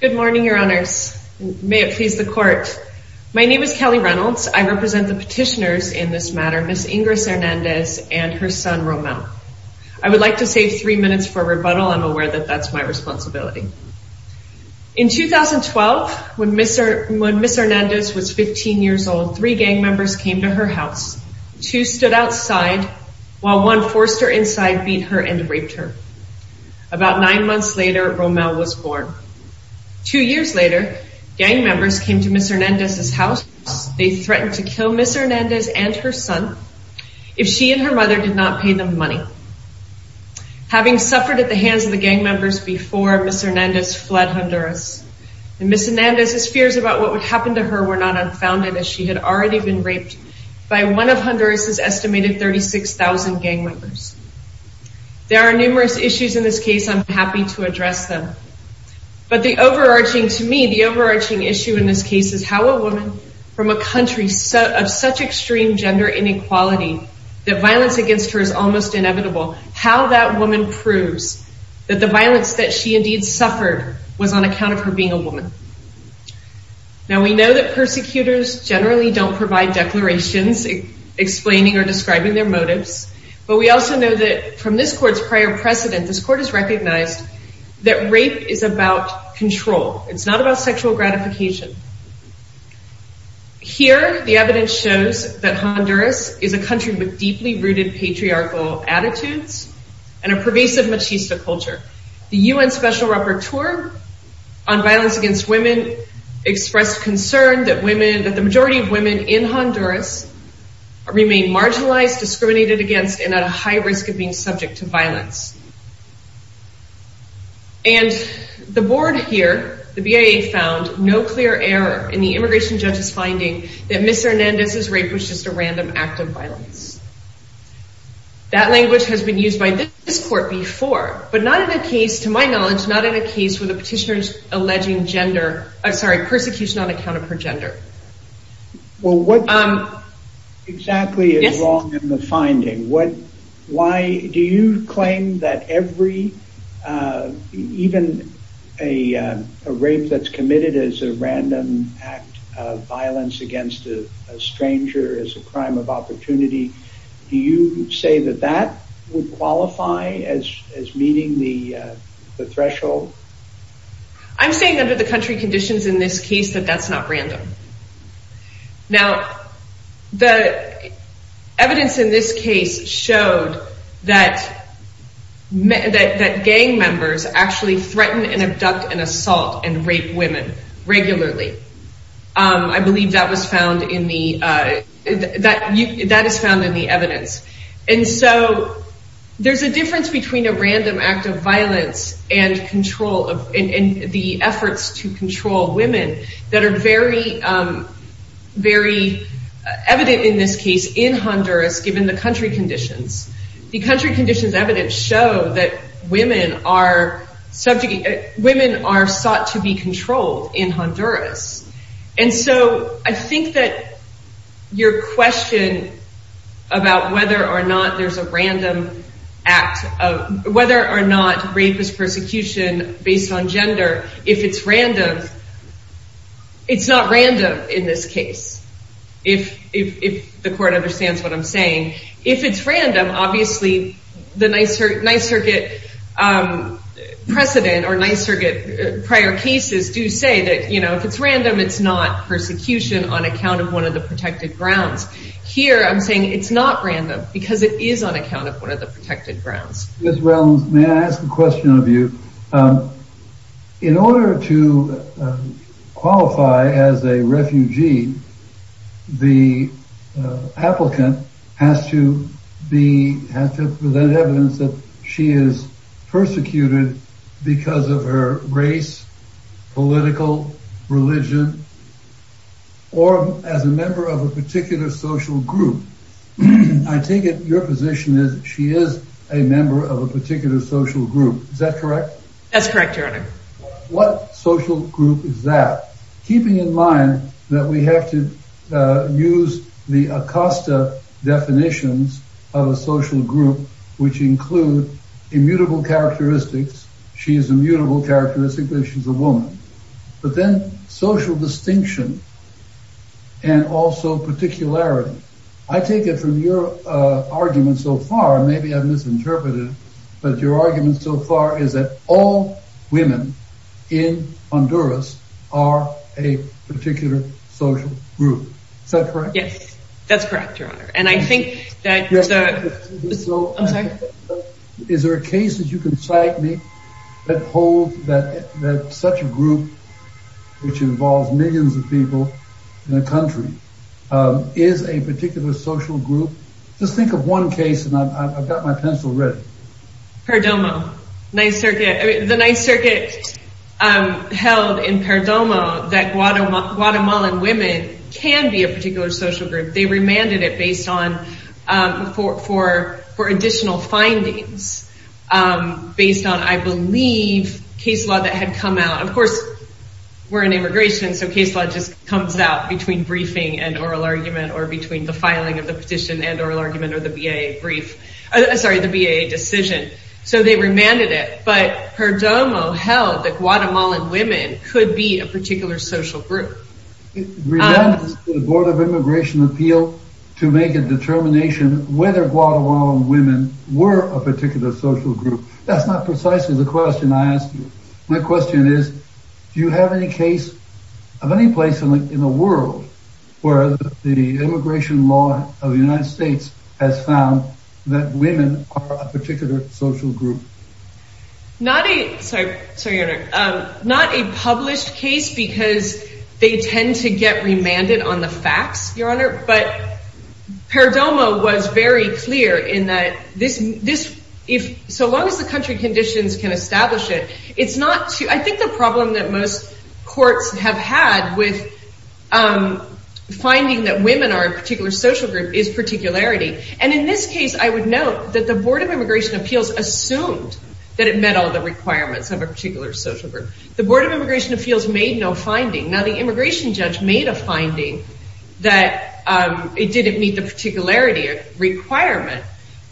Good morning, your honors. May it please the court. My name is Kelly Reynolds. I represent the petitioners in this matter, Ms. Ingris Hernandez and her son, Romel. I would like to save three minutes for rebuttal. I'm aware that that's my responsibility. In 2012, when Ms. Hernandez was 15 years old, three gang members came to her house. Two stood outside, while one forced her inside, beat her, and raped her. About nine months later, Romel was born. Two years later, gang members came to Ms. Hernandez's house. They threatened to kill Ms. Hernandez and her son if she and her mother did not pay them money. Having suffered at the hands of the gang members before, Ms. Hernandez fled Honduras. Ms. Hernandez's fears about what would happen to her were not unfounded, as she had already been raped by one of Honduras's estimated 36,000 gang members. There are numerous issues in this case. I'm happy to address them. But the overarching, to me, the overarching issue in this case is how a woman from a country of such extreme gender inequality, that violence against her is almost inevitable, how that woman proves that the violence that she indeed suffered was on account of her being a woman. Now, we know that persecutors generally don't provide declarations explaining or describing their motives, but we also know that from this court's prior precedent, this court has recognized that rape is about control. It's not about sexual gratification. Here, the evidence shows that Honduras is a country with deeply rooted patriarchal attitudes and a pervasive machista culture. The UN Special Rapporteur on Violence in Honduras remained marginalized, discriminated against, and at a high risk of being subject to violence. And the board here, the BIA, found no clear error in the immigration judge's finding that Ms. Hernandez's rape was just a random act of violence. That language has been used by this court before, but not in a case, to my knowledge, not in a case where the petitioner is alleging gender, I'm sorry, persecution on account of her gender. Well what exactly is wrong in the finding? Do you claim that every, even a rape that's committed as a random act of violence against a stranger is a crime of opportunity? Do you say that that would qualify as meeting the threshold? I'm saying under the country conditions in this case, that that's not random. Now, the evidence in this case showed that gang members actually threaten and abduct and assault and rape women regularly. I believe that was found in the evidence. And so there's a difference between a random act of violence and the efforts to control women that are very evident in this case in Honduras given the country conditions. The country conditions evidence show that women are sought to be controlled in Honduras. And so I think that your question about whether or not there's a random act, whether or not rape is persecution based on gender, if it's random, it's not random in this case, if the court understands what I'm saying. If it's random, obviously the Nyserget precedent or Nyserget prior cases do say that, you know, if it's random, it's not persecution on account of one of the protected grounds. Here, I'm saying it's not random because it is on account of one of the protected grounds. Ms. Relms, may I ask a question of you? In order to qualify as a refugee, the applicant has to be, has to present evidence that she is persecuted because of her race, political, religion, or as a member of a particular social group. I take it your position is she is a member of a particular social group. Is that correct? That's correct, your honor. What social group is that? Keeping in mind that we have to use the Acosta definitions of a social group, which include immutable characteristics. She is immutable characteristic that she's a woman, but then social distinction and also particularity. I take it from your argument so far, maybe I've misinterpreted it, but your argument so far is that all women in Honduras are a particular social group. Is that correct? Yes, that's correct, your honor. And I think that, I'm sorry. Is there a case that you can cite me that holds that such a group, which involves millions of people in a group? Perdomo, 9th Circuit. The 9th Circuit held in Perdomo that Guatemalan women can be a particular social group. They remanded it based on, for additional findings based on, I believe, case law that had come out. Of course, we're in immigration, so case law just comes out between briefing and oral argument or between the filing of the petition and oral argument or the BA brief. Sorry, the BA decision. So they remanded it, but Perdomo held that Guatemalan women could be a particular social group. Remanded the Board of Immigration Appeal to make a determination whether Guatemalan women were a particular social group. That's not precisely the question I asked. My question is, do you have any case of any place in the world where the immigration law of the that women are a particular social group? Not a, sorry, not a published case because they tend to get remanded on the facts, Your Honor, but Perdomo was very clear in that this, so long as the country conditions can establish it, it's not, I think the problem that most courts have had with finding that women are a particular social group is particularity. And in this case, I would note that the Board of Immigration Appeals assumed that it met all the requirements of a particular social group. The Board of Immigration Appeals made no finding. Now, the immigration judge made a finding that it didn't meet the particularity requirement,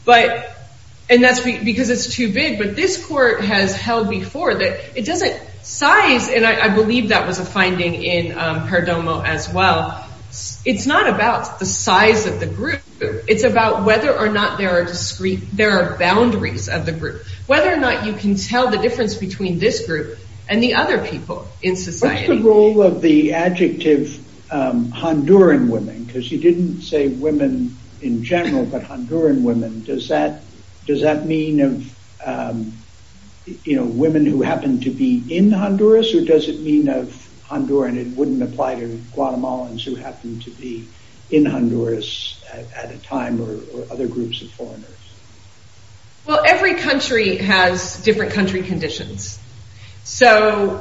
and that's because it's too big, but this court has held before that it doesn't size, and I believe that was a finding in Perdomo as well. It's not about the size of the group. It's about whether or not there are boundaries of the group, whether or not you can tell the difference between this group and the other people in society. What's the role of the adjective Honduran women? Because you didn't say women in general, but Honduran women. Does that mean of women who happen to be in Honduras, or does it mean of Honduran? It wouldn't apply to time or other groups of foreigners. Well, every country has different country conditions. So,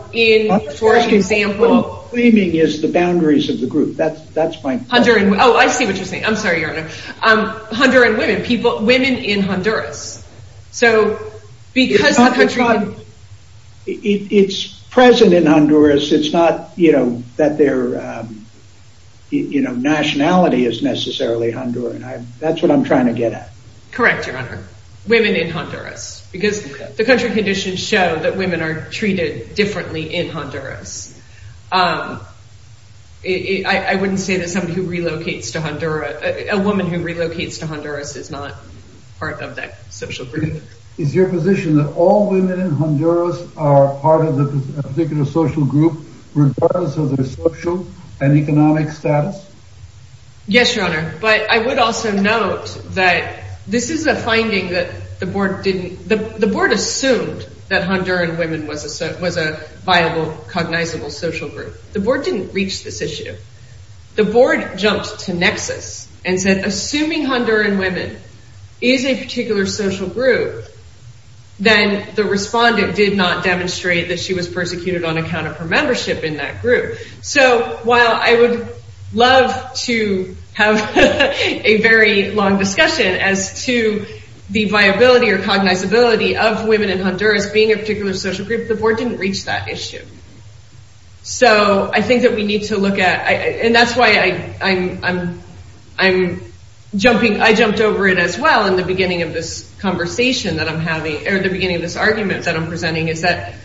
for example... What you're claiming is the boundaries of the group. That's my... Honduran... Oh, I see what you're saying. I'm sorry, Your Honor. Honduran women, women in Honduras. So, because the country... It's present in Honduras. It's not that their nationality is necessarily Honduran. That's what I'm trying to get at. Correct, Your Honor. Women in Honduras, because the country conditions show that women are treated differently in Honduras. I wouldn't say that somebody who relocates to Honduras... A woman who relocates to Honduras is not part of that social group. Is your position that all women in Honduras are part of a particular social group, regardless of their social and economic status? Yes, Your Honor. But I would also note that this is a finding that the board didn't... The board assumed that Honduran women was a viable, cognizable social group. The board didn't reach this issue. The board jumped to nexus and said, assuming Honduran women is a particular social group, then the respondent did not demonstrate that she was persecuted on account of her membership in that group. So, while I would love to have a very long discussion as to the viability or cognizability of women in Honduras being a particular social group, the board didn't reach that issue. So, I think that we need to look at... And that's why I'm jumping... I jumped over it as well in the beginning of this conversation that I'm having, or the beginning of this argument that I'm presenting, is that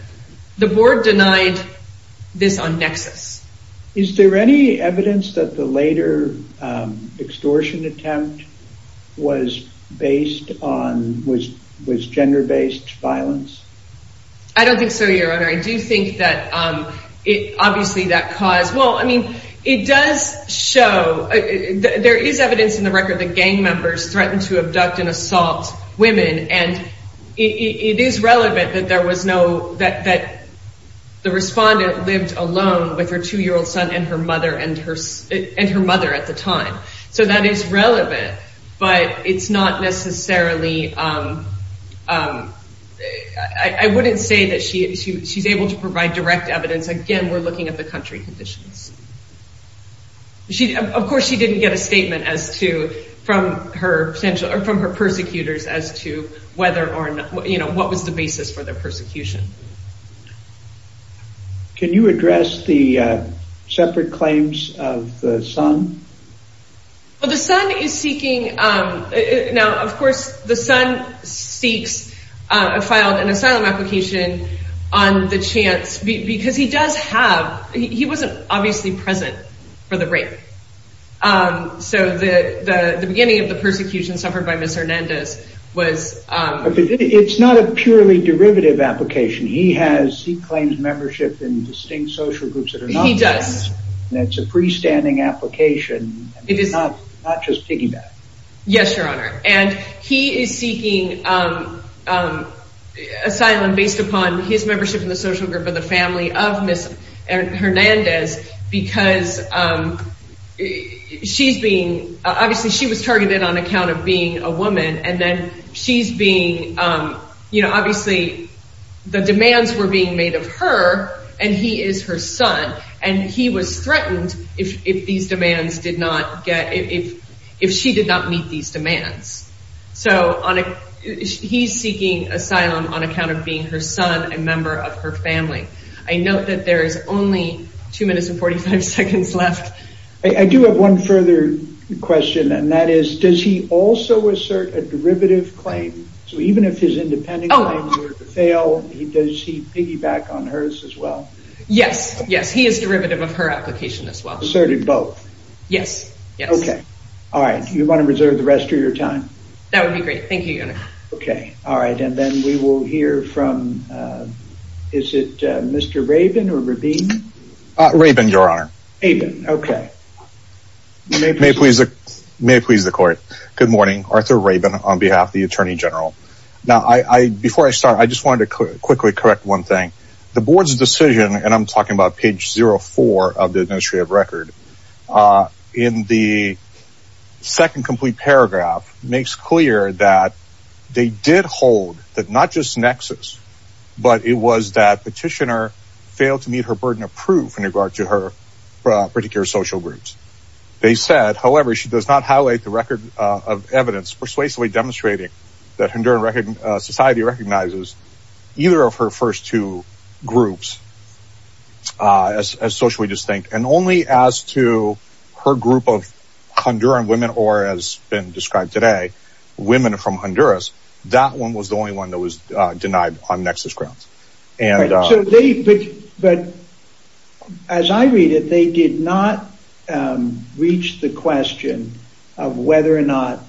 the board denied this on nexus. Is there any evidence that the later extortion attempt was based on... Was gender-based violence? I don't think so, Your Honor. I do think that obviously that caused... Well, I mean, it does show... There is evidence in the record that gang members threatened to abduct and assault women, and it is relevant that there was no... That the respondent lived alone with her two-year-old son and her mother at the time. So, that is relevant, but it's not necessarily... I wouldn't say that she's able to provide direct evidence. Again, we're looking at the country conditions. Of course, she didn't get a statement as to... From her persecutors as to whether or not... What was the basis for their persecution? Can you address the separate claims of the son? Well, the son is seeking... Now, of course, the son seeks... Filed an asylum application on the chance... Because he does have... He wasn't obviously present for the rape. So, the beginning of the persecution suffered by Ms. Hernandez was... It's not a purely derivative application. He has... He claims membership in distinct social groups that are not... He does. That's a freestanding application. It is... Not just piggyback. Yes, Your Honor. And he is seeking asylum based upon his membership in the social group of the family of Ms. Hernandez because she's being... Obviously, she was targeted on account of being a woman and then she's being... Obviously, the demands were being made of her and he is her son. And he was threatened if these don't meet these demands. So, he's seeking asylum on account of being her son and member of her family. I note that there is only 2 minutes and 45 seconds left. I do have one further question and that is, does he also assert a derivative claim? So, even if his independent claims were to fail, does he piggyback on hers as well? Yes, yes. He is derivative of her application as well. Asserted both? Yes, yes. All right. Do you want to reserve the rest of your time? That would be great. Thank you, Your Honor. Okay. All right. And then we will hear from... Is it Mr. Rabin or Rabin? Rabin, Your Honor. Rabin. Okay. May it please the court. Good morning. Arthur Rabin on behalf of the Attorney General. Now, before I start, I just wanted to quickly correct one thing. The board's decision, and I'm talking about page 04 of the Administrative Record, in the second complete paragraph, makes clear that they did hold that not just nexus, but it was that petitioner failed to meet her burden of proof in regard to her particular social groups. They said, however, she does not highlight the record of evidence persuasively demonstrating that Honduran society recognizes either of her first two groups as socially distinct. And only as to her group of Honduran women, or as been described today, women from Honduras, that one was the only one that was denied on nexus grounds. But as I read it, they did not reach the question of whether or not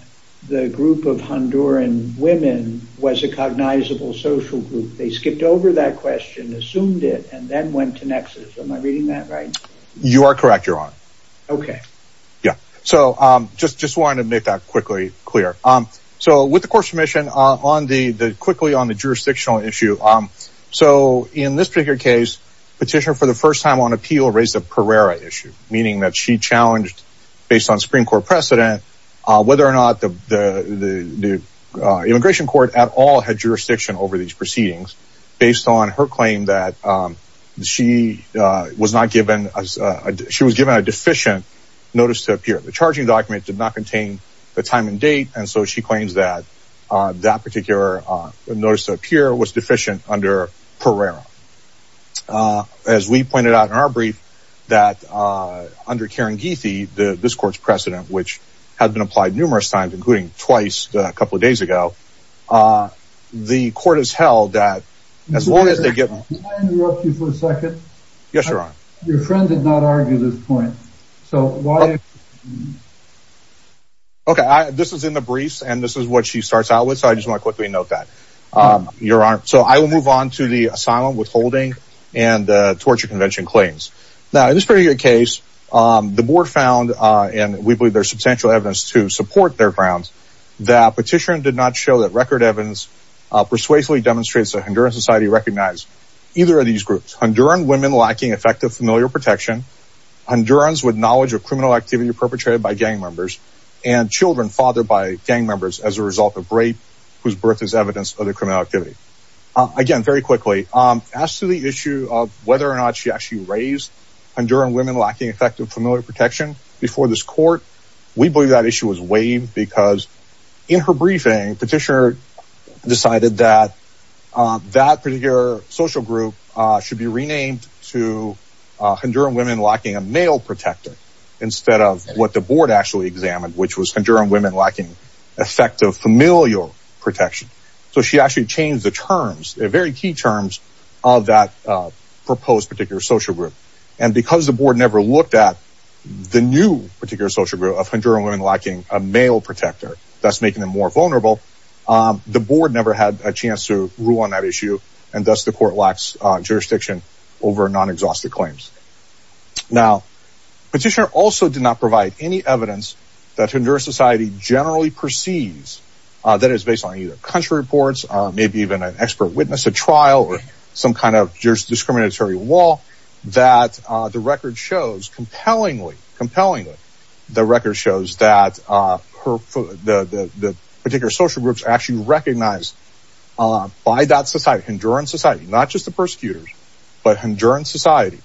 the group of Honduran women was a cognizable social group. They skipped over that question, assumed it, and then went to nexus. Am I reading that right? You are correct, Your Honor. Okay. Yeah. So, just wanted to make that quickly clear. So, with the court's permission, quickly on the jurisdictional issue. So, in this particular case, petitioner for the first time on appeal raised a Pereira issue, meaning that she challenged, based on Supreme Court precedent, whether or not the immigration court at all had jurisdiction over these proceedings, based on her claim that she was given a deficient notice to appear. The charging document did not contain the time and date, and so she claims that that particular notice to appear was deficient under Pereira. As we pointed out in our brief, that under this court's precedent, which has been applied numerous times, including twice a couple of days ago, the court has held that as long as they get... Can I interrupt you for a second? Yes, Your Honor. Your friend did not argue this point. So, why... Okay. This is in the briefs, and this is what she starts out with. So, I just want to quickly note that, Your Honor. So, I will move on to the asylum withholding and the torture convention claims. Now, in this particular case, the board found, and we believe there's substantial evidence to support their grounds, that petitioner did not show that record evidence persuasively demonstrates that Honduran society recognized either of these groups. Honduran women lacking effective familial protection, Hondurans with knowledge of criminal activity perpetrated by gang members, and children fathered by gang members as a result of rape whose birth is evidence of the criminal activity. Again, very quickly, as to the issue of whether or not she actually raised Honduran women lacking effective familial protection before this court, we believe that issue was waived because in her briefing, petitioner decided that that particular social group should be renamed to Honduran women lacking a male protector, instead of what the board actually examined, which was Honduran women lacking effective familial protection. So, she actually changed the very key terms of that proposed particular social group, and because the board never looked at the new particular social group of Honduran women lacking a male protector, thus making them more vulnerable, the board never had a chance to rule on that issue, and thus the court lacks jurisdiction over non-exhaustive claims. Now, petitioner also did not provide any evidence that Honduran society generally perceives that is based on either country reports, maybe even an expert witness, a trial, or some kind of jurisdiscriminatory law, that the record shows compellingly, compellingly, the record shows that the particular social groups actually recognized by that society, Honduran society, not just the persecutors, but Honduran society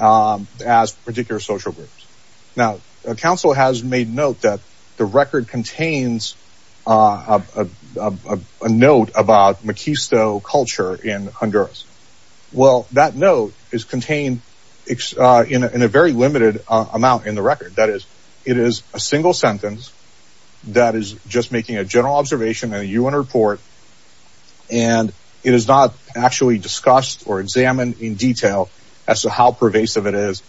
as particular social groups. Now, counsel has made note that the record contains a note about Miquisto culture in Honduras. Well, that note is contained in a very limited amount in the record, that is, it is a single sentence that is just making a general observation in a UN report, and it is not actually discussed or examined in detail as to how pervasive it is,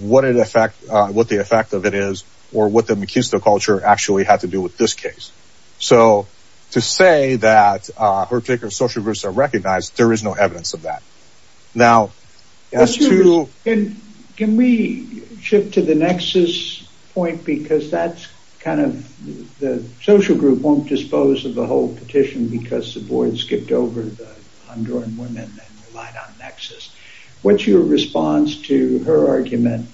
what it affect, what the effect of it is, or what the Miquisto culture actually had to do with this case. So, to say that particular social groups are recognized, there is no evidence of that. Now, can we shift to the nexus point, because that's kind of the social group won't dispose of the whole petition because the board skipped over the Honduran women and relied on nexus. What's your response to her argument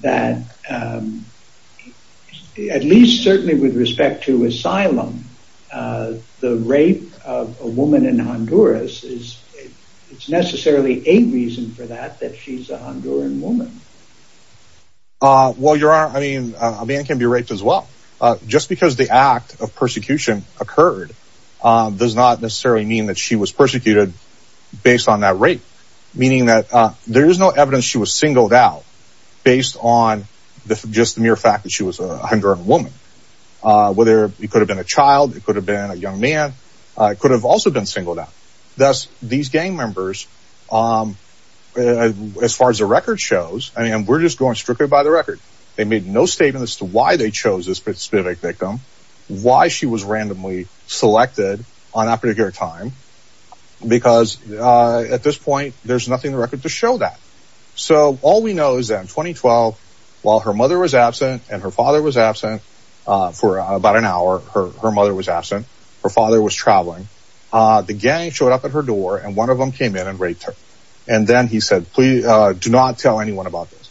that, at least certainly with respect to asylum, the rape of a woman in Honduras, it's necessarily a reason for that, that she's a Honduran woman. Well, your honor, I mean, a man can be raped as well. Just because the act of persecution occurred does not necessarily mean that she was persecuted based on that rape. Meaning that there is no evidence she was singled out based on just the mere fact that she was a Honduran woman. Whether it could have been a child, it could have been a young man, it could have also been singled out. Thus, these gang members, as far as the record shows, I mean, we're just going strictly by the record. They made no statement as to why they chose this victim, why she was randomly selected on that particular time. Because at this point, there's nothing in the record to show that. So all we know is that in 2012, while her mother was absent and her father was absent for about an hour, her mother was absent, her father was traveling. The gang showed up at her door and one of them came in and raped her. And then he said, please do not tell anyone about this.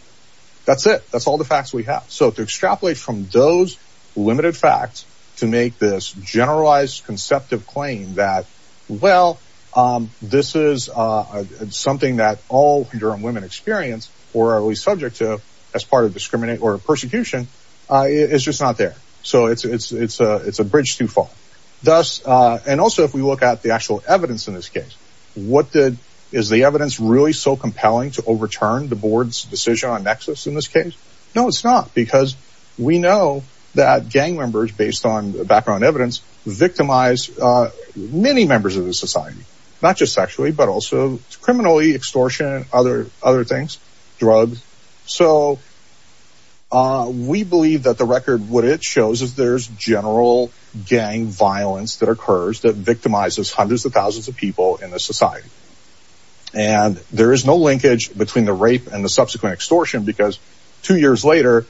That's it. That's all the facts we have. So to extrapolate from those limited facts to make this generalized, conceptive claim that, well, this is something that all Honduran women experience or are subject to as part of discrimination or persecution, it's just not there. So it's a bridge too far. And also, if we look at the actual evidence in this case, is the evidence really so compelling to overturn the board's decision on Nexus in this case? No, it's not. Because we know that gang members, based on background evidence, victimized many members of the society, not just sexually, but also criminally, extortion, other things, drugs. So we believe that the record, what it shows is there's general gang violence that occurs that victimizes hundreds of thousands of people in the society. And there is no proof. Two years later,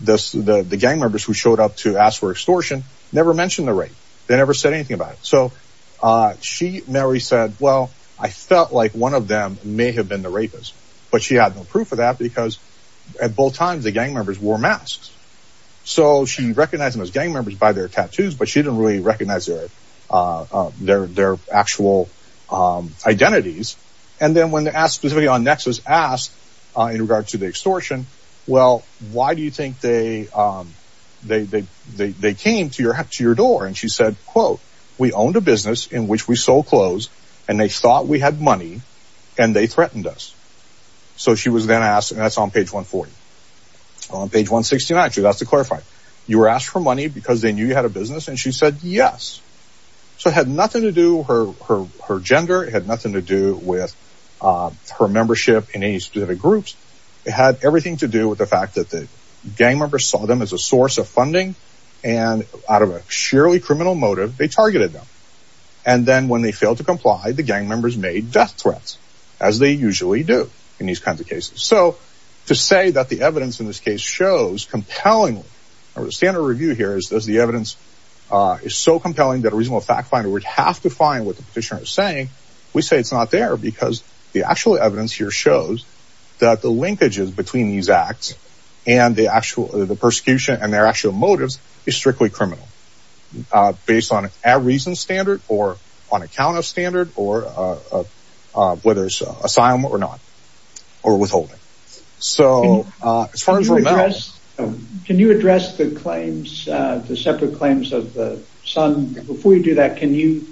the gang members who showed up to ask for extortion never mentioned the rape. They never said anything about it. So she, Mary, said, well, I felt like one of them may have been the rapist. But she had no proof of that because at both times the gang members wore masks. So she recognized them as gang members by their tattoos, but she didn't really recognize their actual identities. And then when they asked specifically on Nexus, asked in regard to the why do you think they came to your door? And she said, quote, we owned a business in which we sold clothes and they thought we had money and they threatened us. So she was then asked, and that's on page 140. On page 169, she was asked to clarify. You were asked for money because they knew you had a business? And she said, yes. So it had nothing to do, her gender, it had nothing to do with her membership in any specific groups. It had everything to do with the fact that the gang members saw them as a source of funding. And out of a sheerly criminal motive, they targeted them. And then when they failed to comply, the gang members made death threats, as they usually do in these kinds of cases. So to say that the evidence in this case shows compelling, or the standard review here is the evidence is so compelling that a reasonable fact finder would have to find what the petitioner is saying. We say it's not there because the actual evidence here shows that the linkages between these acts and the actual, the persecution and their actual motives is strictly criminal, based on a reason standard or on account of standard or whether it's assignment or not, or withholding. So as far as... Can you address the claims, the separate claims of the son? Before you do that, can you,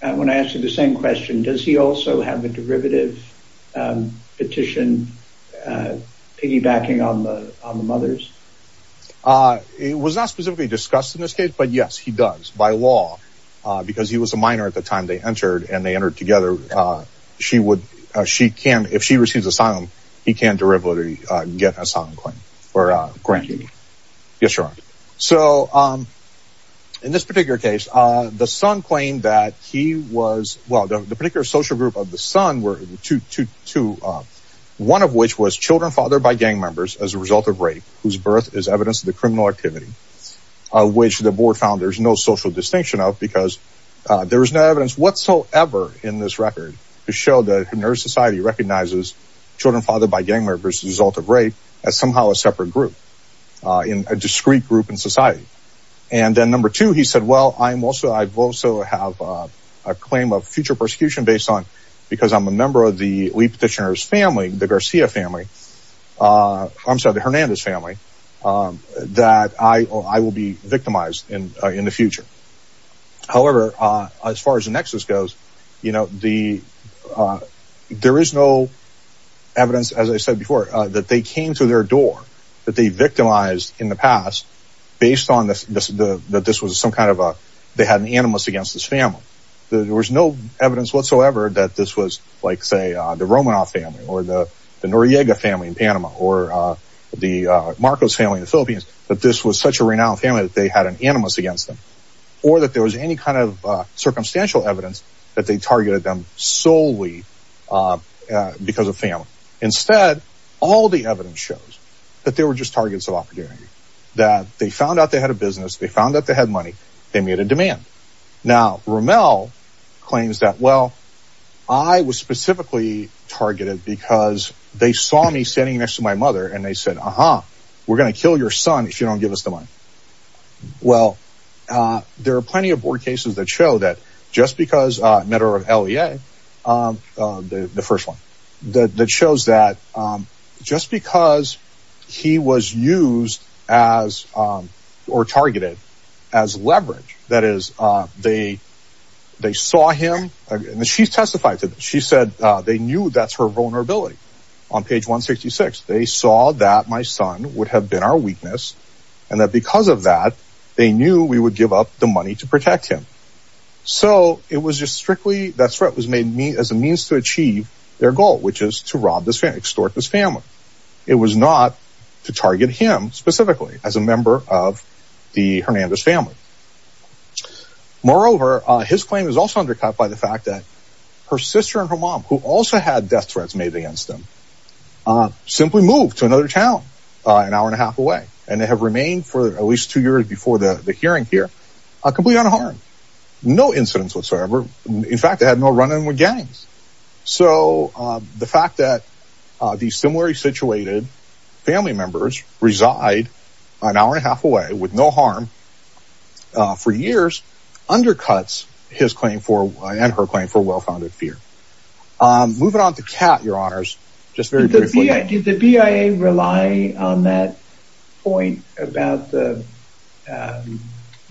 when I ask you the same question, does he also have a derivative petition piggybacking on the mothers? It was not specifically discussed in this case, but yes, he does by law, because he was a minor at the time they entered and they entered together. She would, she can, if she receives asylum, he can derivatively get an asylum claim or grant. Yes, Your Honor. So in this particular case, the son claimed that he was, well, the particular social group of the son were two, one of which was children fathered by gang members as a result of rape, whose birth is evidence of the criminal activity, of which the board found there's no social distinction of because there was no evidence whatsoever in this record to show that community society recognizes children fathered by gang members as a result of rape as somehow a separate group, in a discrete group in society. And then number two, he said, well, I'm also, I've also have a claim of future persecution based on, because I'm a member of the Lee petitioner's family, the Garcia family, I'm sorry, the Hernandez family, that I will be victimized in the future. However, as far as the nexus goes, there is no evidence, as I said before, that they came to their door, that they victimized in the past, based on this, that this was some kind of a, they had an animus against this family. There was no evidence whatsoever that this was like, say the Romanoff family or the Noriega family in Panama or the Marcos family in the Philippines, that this was such a renowned family that they had an animus against them or that there was any kind of circumstantial evidence that they targeted them solely because of family. Instead, all the evidence shows that they were just targets of opportunity, that they found out they had a business, they found out they had money, they made a demand. Now, Romell claims that, well, I was specifically targeted because they saw me standing next to my mother and they said, uh-huh, we're going to kill your son if you don't give us the money. Well, there are plenty of board cases that show that just because, a matter of LEA, the first one, that shows that just because he was used as, or targeted as leverage, that is, they saw him, and she testified to that, she said they knew that's her vulnerability. On page 166, they saw that my son would have been our weakness and that because of that, they knew we would give up the money to protect him. So, it was just strictly, that threat was made as a means to achieve their goal, which is to rob this family, extort this family. It was not to target him specifically as a member of the Hernandez family. Moreover, his claim is also undercut by the fact that her sister and her mom, who also had death threats made against them, simply moved to another town an hour and a half away, and they have remained for at least two years before the hearing here completely unharmed. No incidents whatsoever. In fact, they had no run-in with gangs. So, the fact that these similarly situated family members reside an hour and a half away with no well-founded fear. Moving on to Kat, your honors, just very briefly. Did the BIA rely on that point about the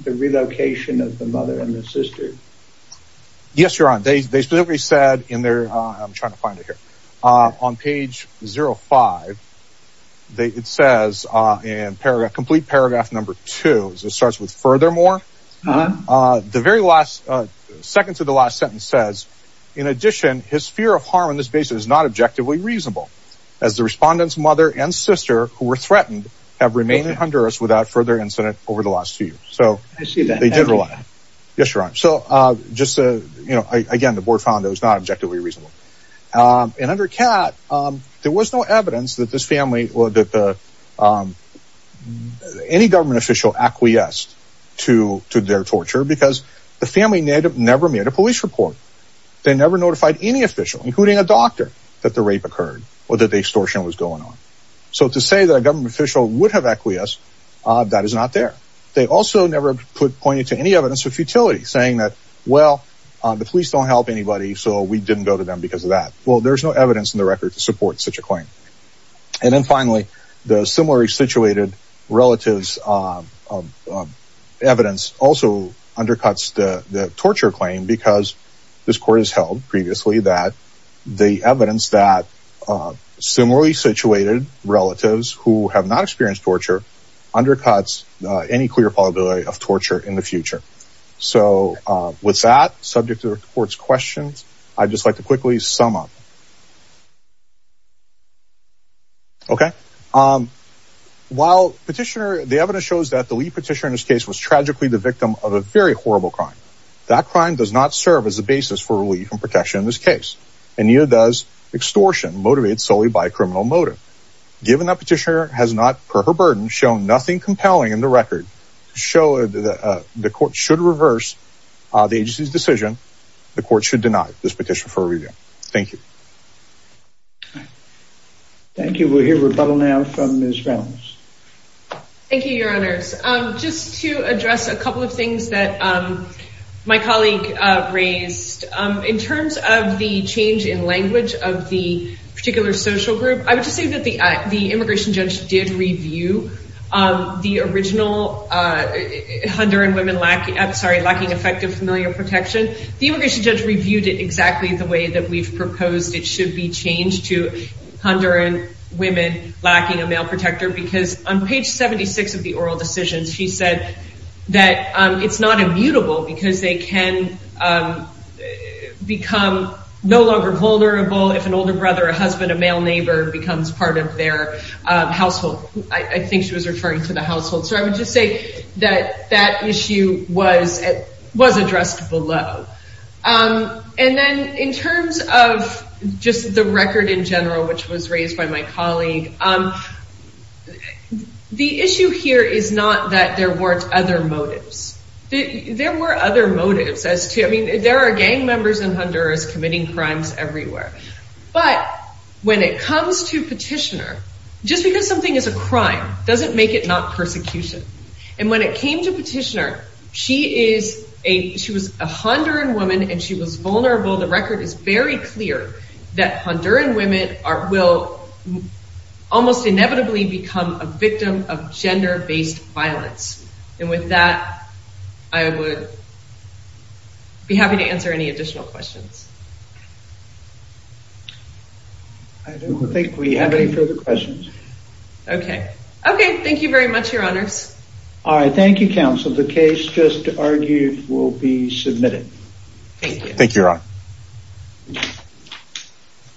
relocation of the mother and the sister? Yes, your honor. They specifically said in their, I'm trying to find it here, on page 05, it says in paragraph, complete paragraph number two. It starts with furthermore. The very last, second to the last sentence says, in addition, his fear of harm on this basis is not objectively reasonable, as the respondent's mother and sister, who were threatened, have remained in Honduras without further incident over the last few years. So, they did rely. Yes, your honor. So, just, you know, again, the board found it was not objectively reasonable. And under Kat, there was no evidence that this acquiesced to their torture, because the family never made a police report. They never notified any official, including a doctor, that the rape occurred or that the extortion was going on. So, to say that a government official would have acquiesced, that is not there. They also never pointed to any evidence of futility, saying that, well, the police don't help anybody, so we didn't go to them because of that. Well, there's no evidence in the record to support such a claim. And then finally, the similarly situated relatives evidence also undercuts the torture claim, because this court has held previously that the evidence that similarly situated relatives who have not experienced torture undercuts any clear probability of torture in the future. So, with that, subject to the court's questions, I'd just like to quickly sum up. Okay. While petitioner, the evidence shows that the lead petitioner in this case was tragically the victim of a very horrible crime. That crime does not serve as a basis for relief and protection in this case. And neither does extortion motivated solely by a criminal motive. Given that petitioner has not, per her burden, shown nothing compelling in the record to show the court should reverse the agency's decision, the court should deny this petition for a review. Thank you. Thank you. We'll hear rebuttal now from Ms. Ramos. Thank you, your honors. Just to address a couple of things that my colleague raised. In terms of the change in language of the particular social group, I would just say that the immigration judge did review the original Honduran women lacking effective familial protection. The proposed it should be changed to Honduran women lacking a male protector because on page 76 of the oral decisions, she said that it's not immutable because they can become no longer vulnerable if an older brother, a husband, a male neighbor becomes part of their household. I think she was referring to the household. So, I would just say that that issue was addressed below. And then in terms of just the record in general, which was raised by my colleague, the issue here is not that there weren't other motives. There were other motives as to, I mean, there are gang members in Honduras committing crimes everywhere. But when it comes to petitioner, just because something is a crime doesn't make it not persecution. And when it came to petitioner, she is a, she was a Honduran woman and she was vulnerable. The record is very clear that Honduran women are, will almost inevitably become a victim of gender-based violence. And with that, I would be happy to answer any additional questions. I don't think we have any further questions. Okay. Okay. Thank you very much, your honors. All right. Thank you, counsel. The case just argued will be submitted. Thank you, your honor.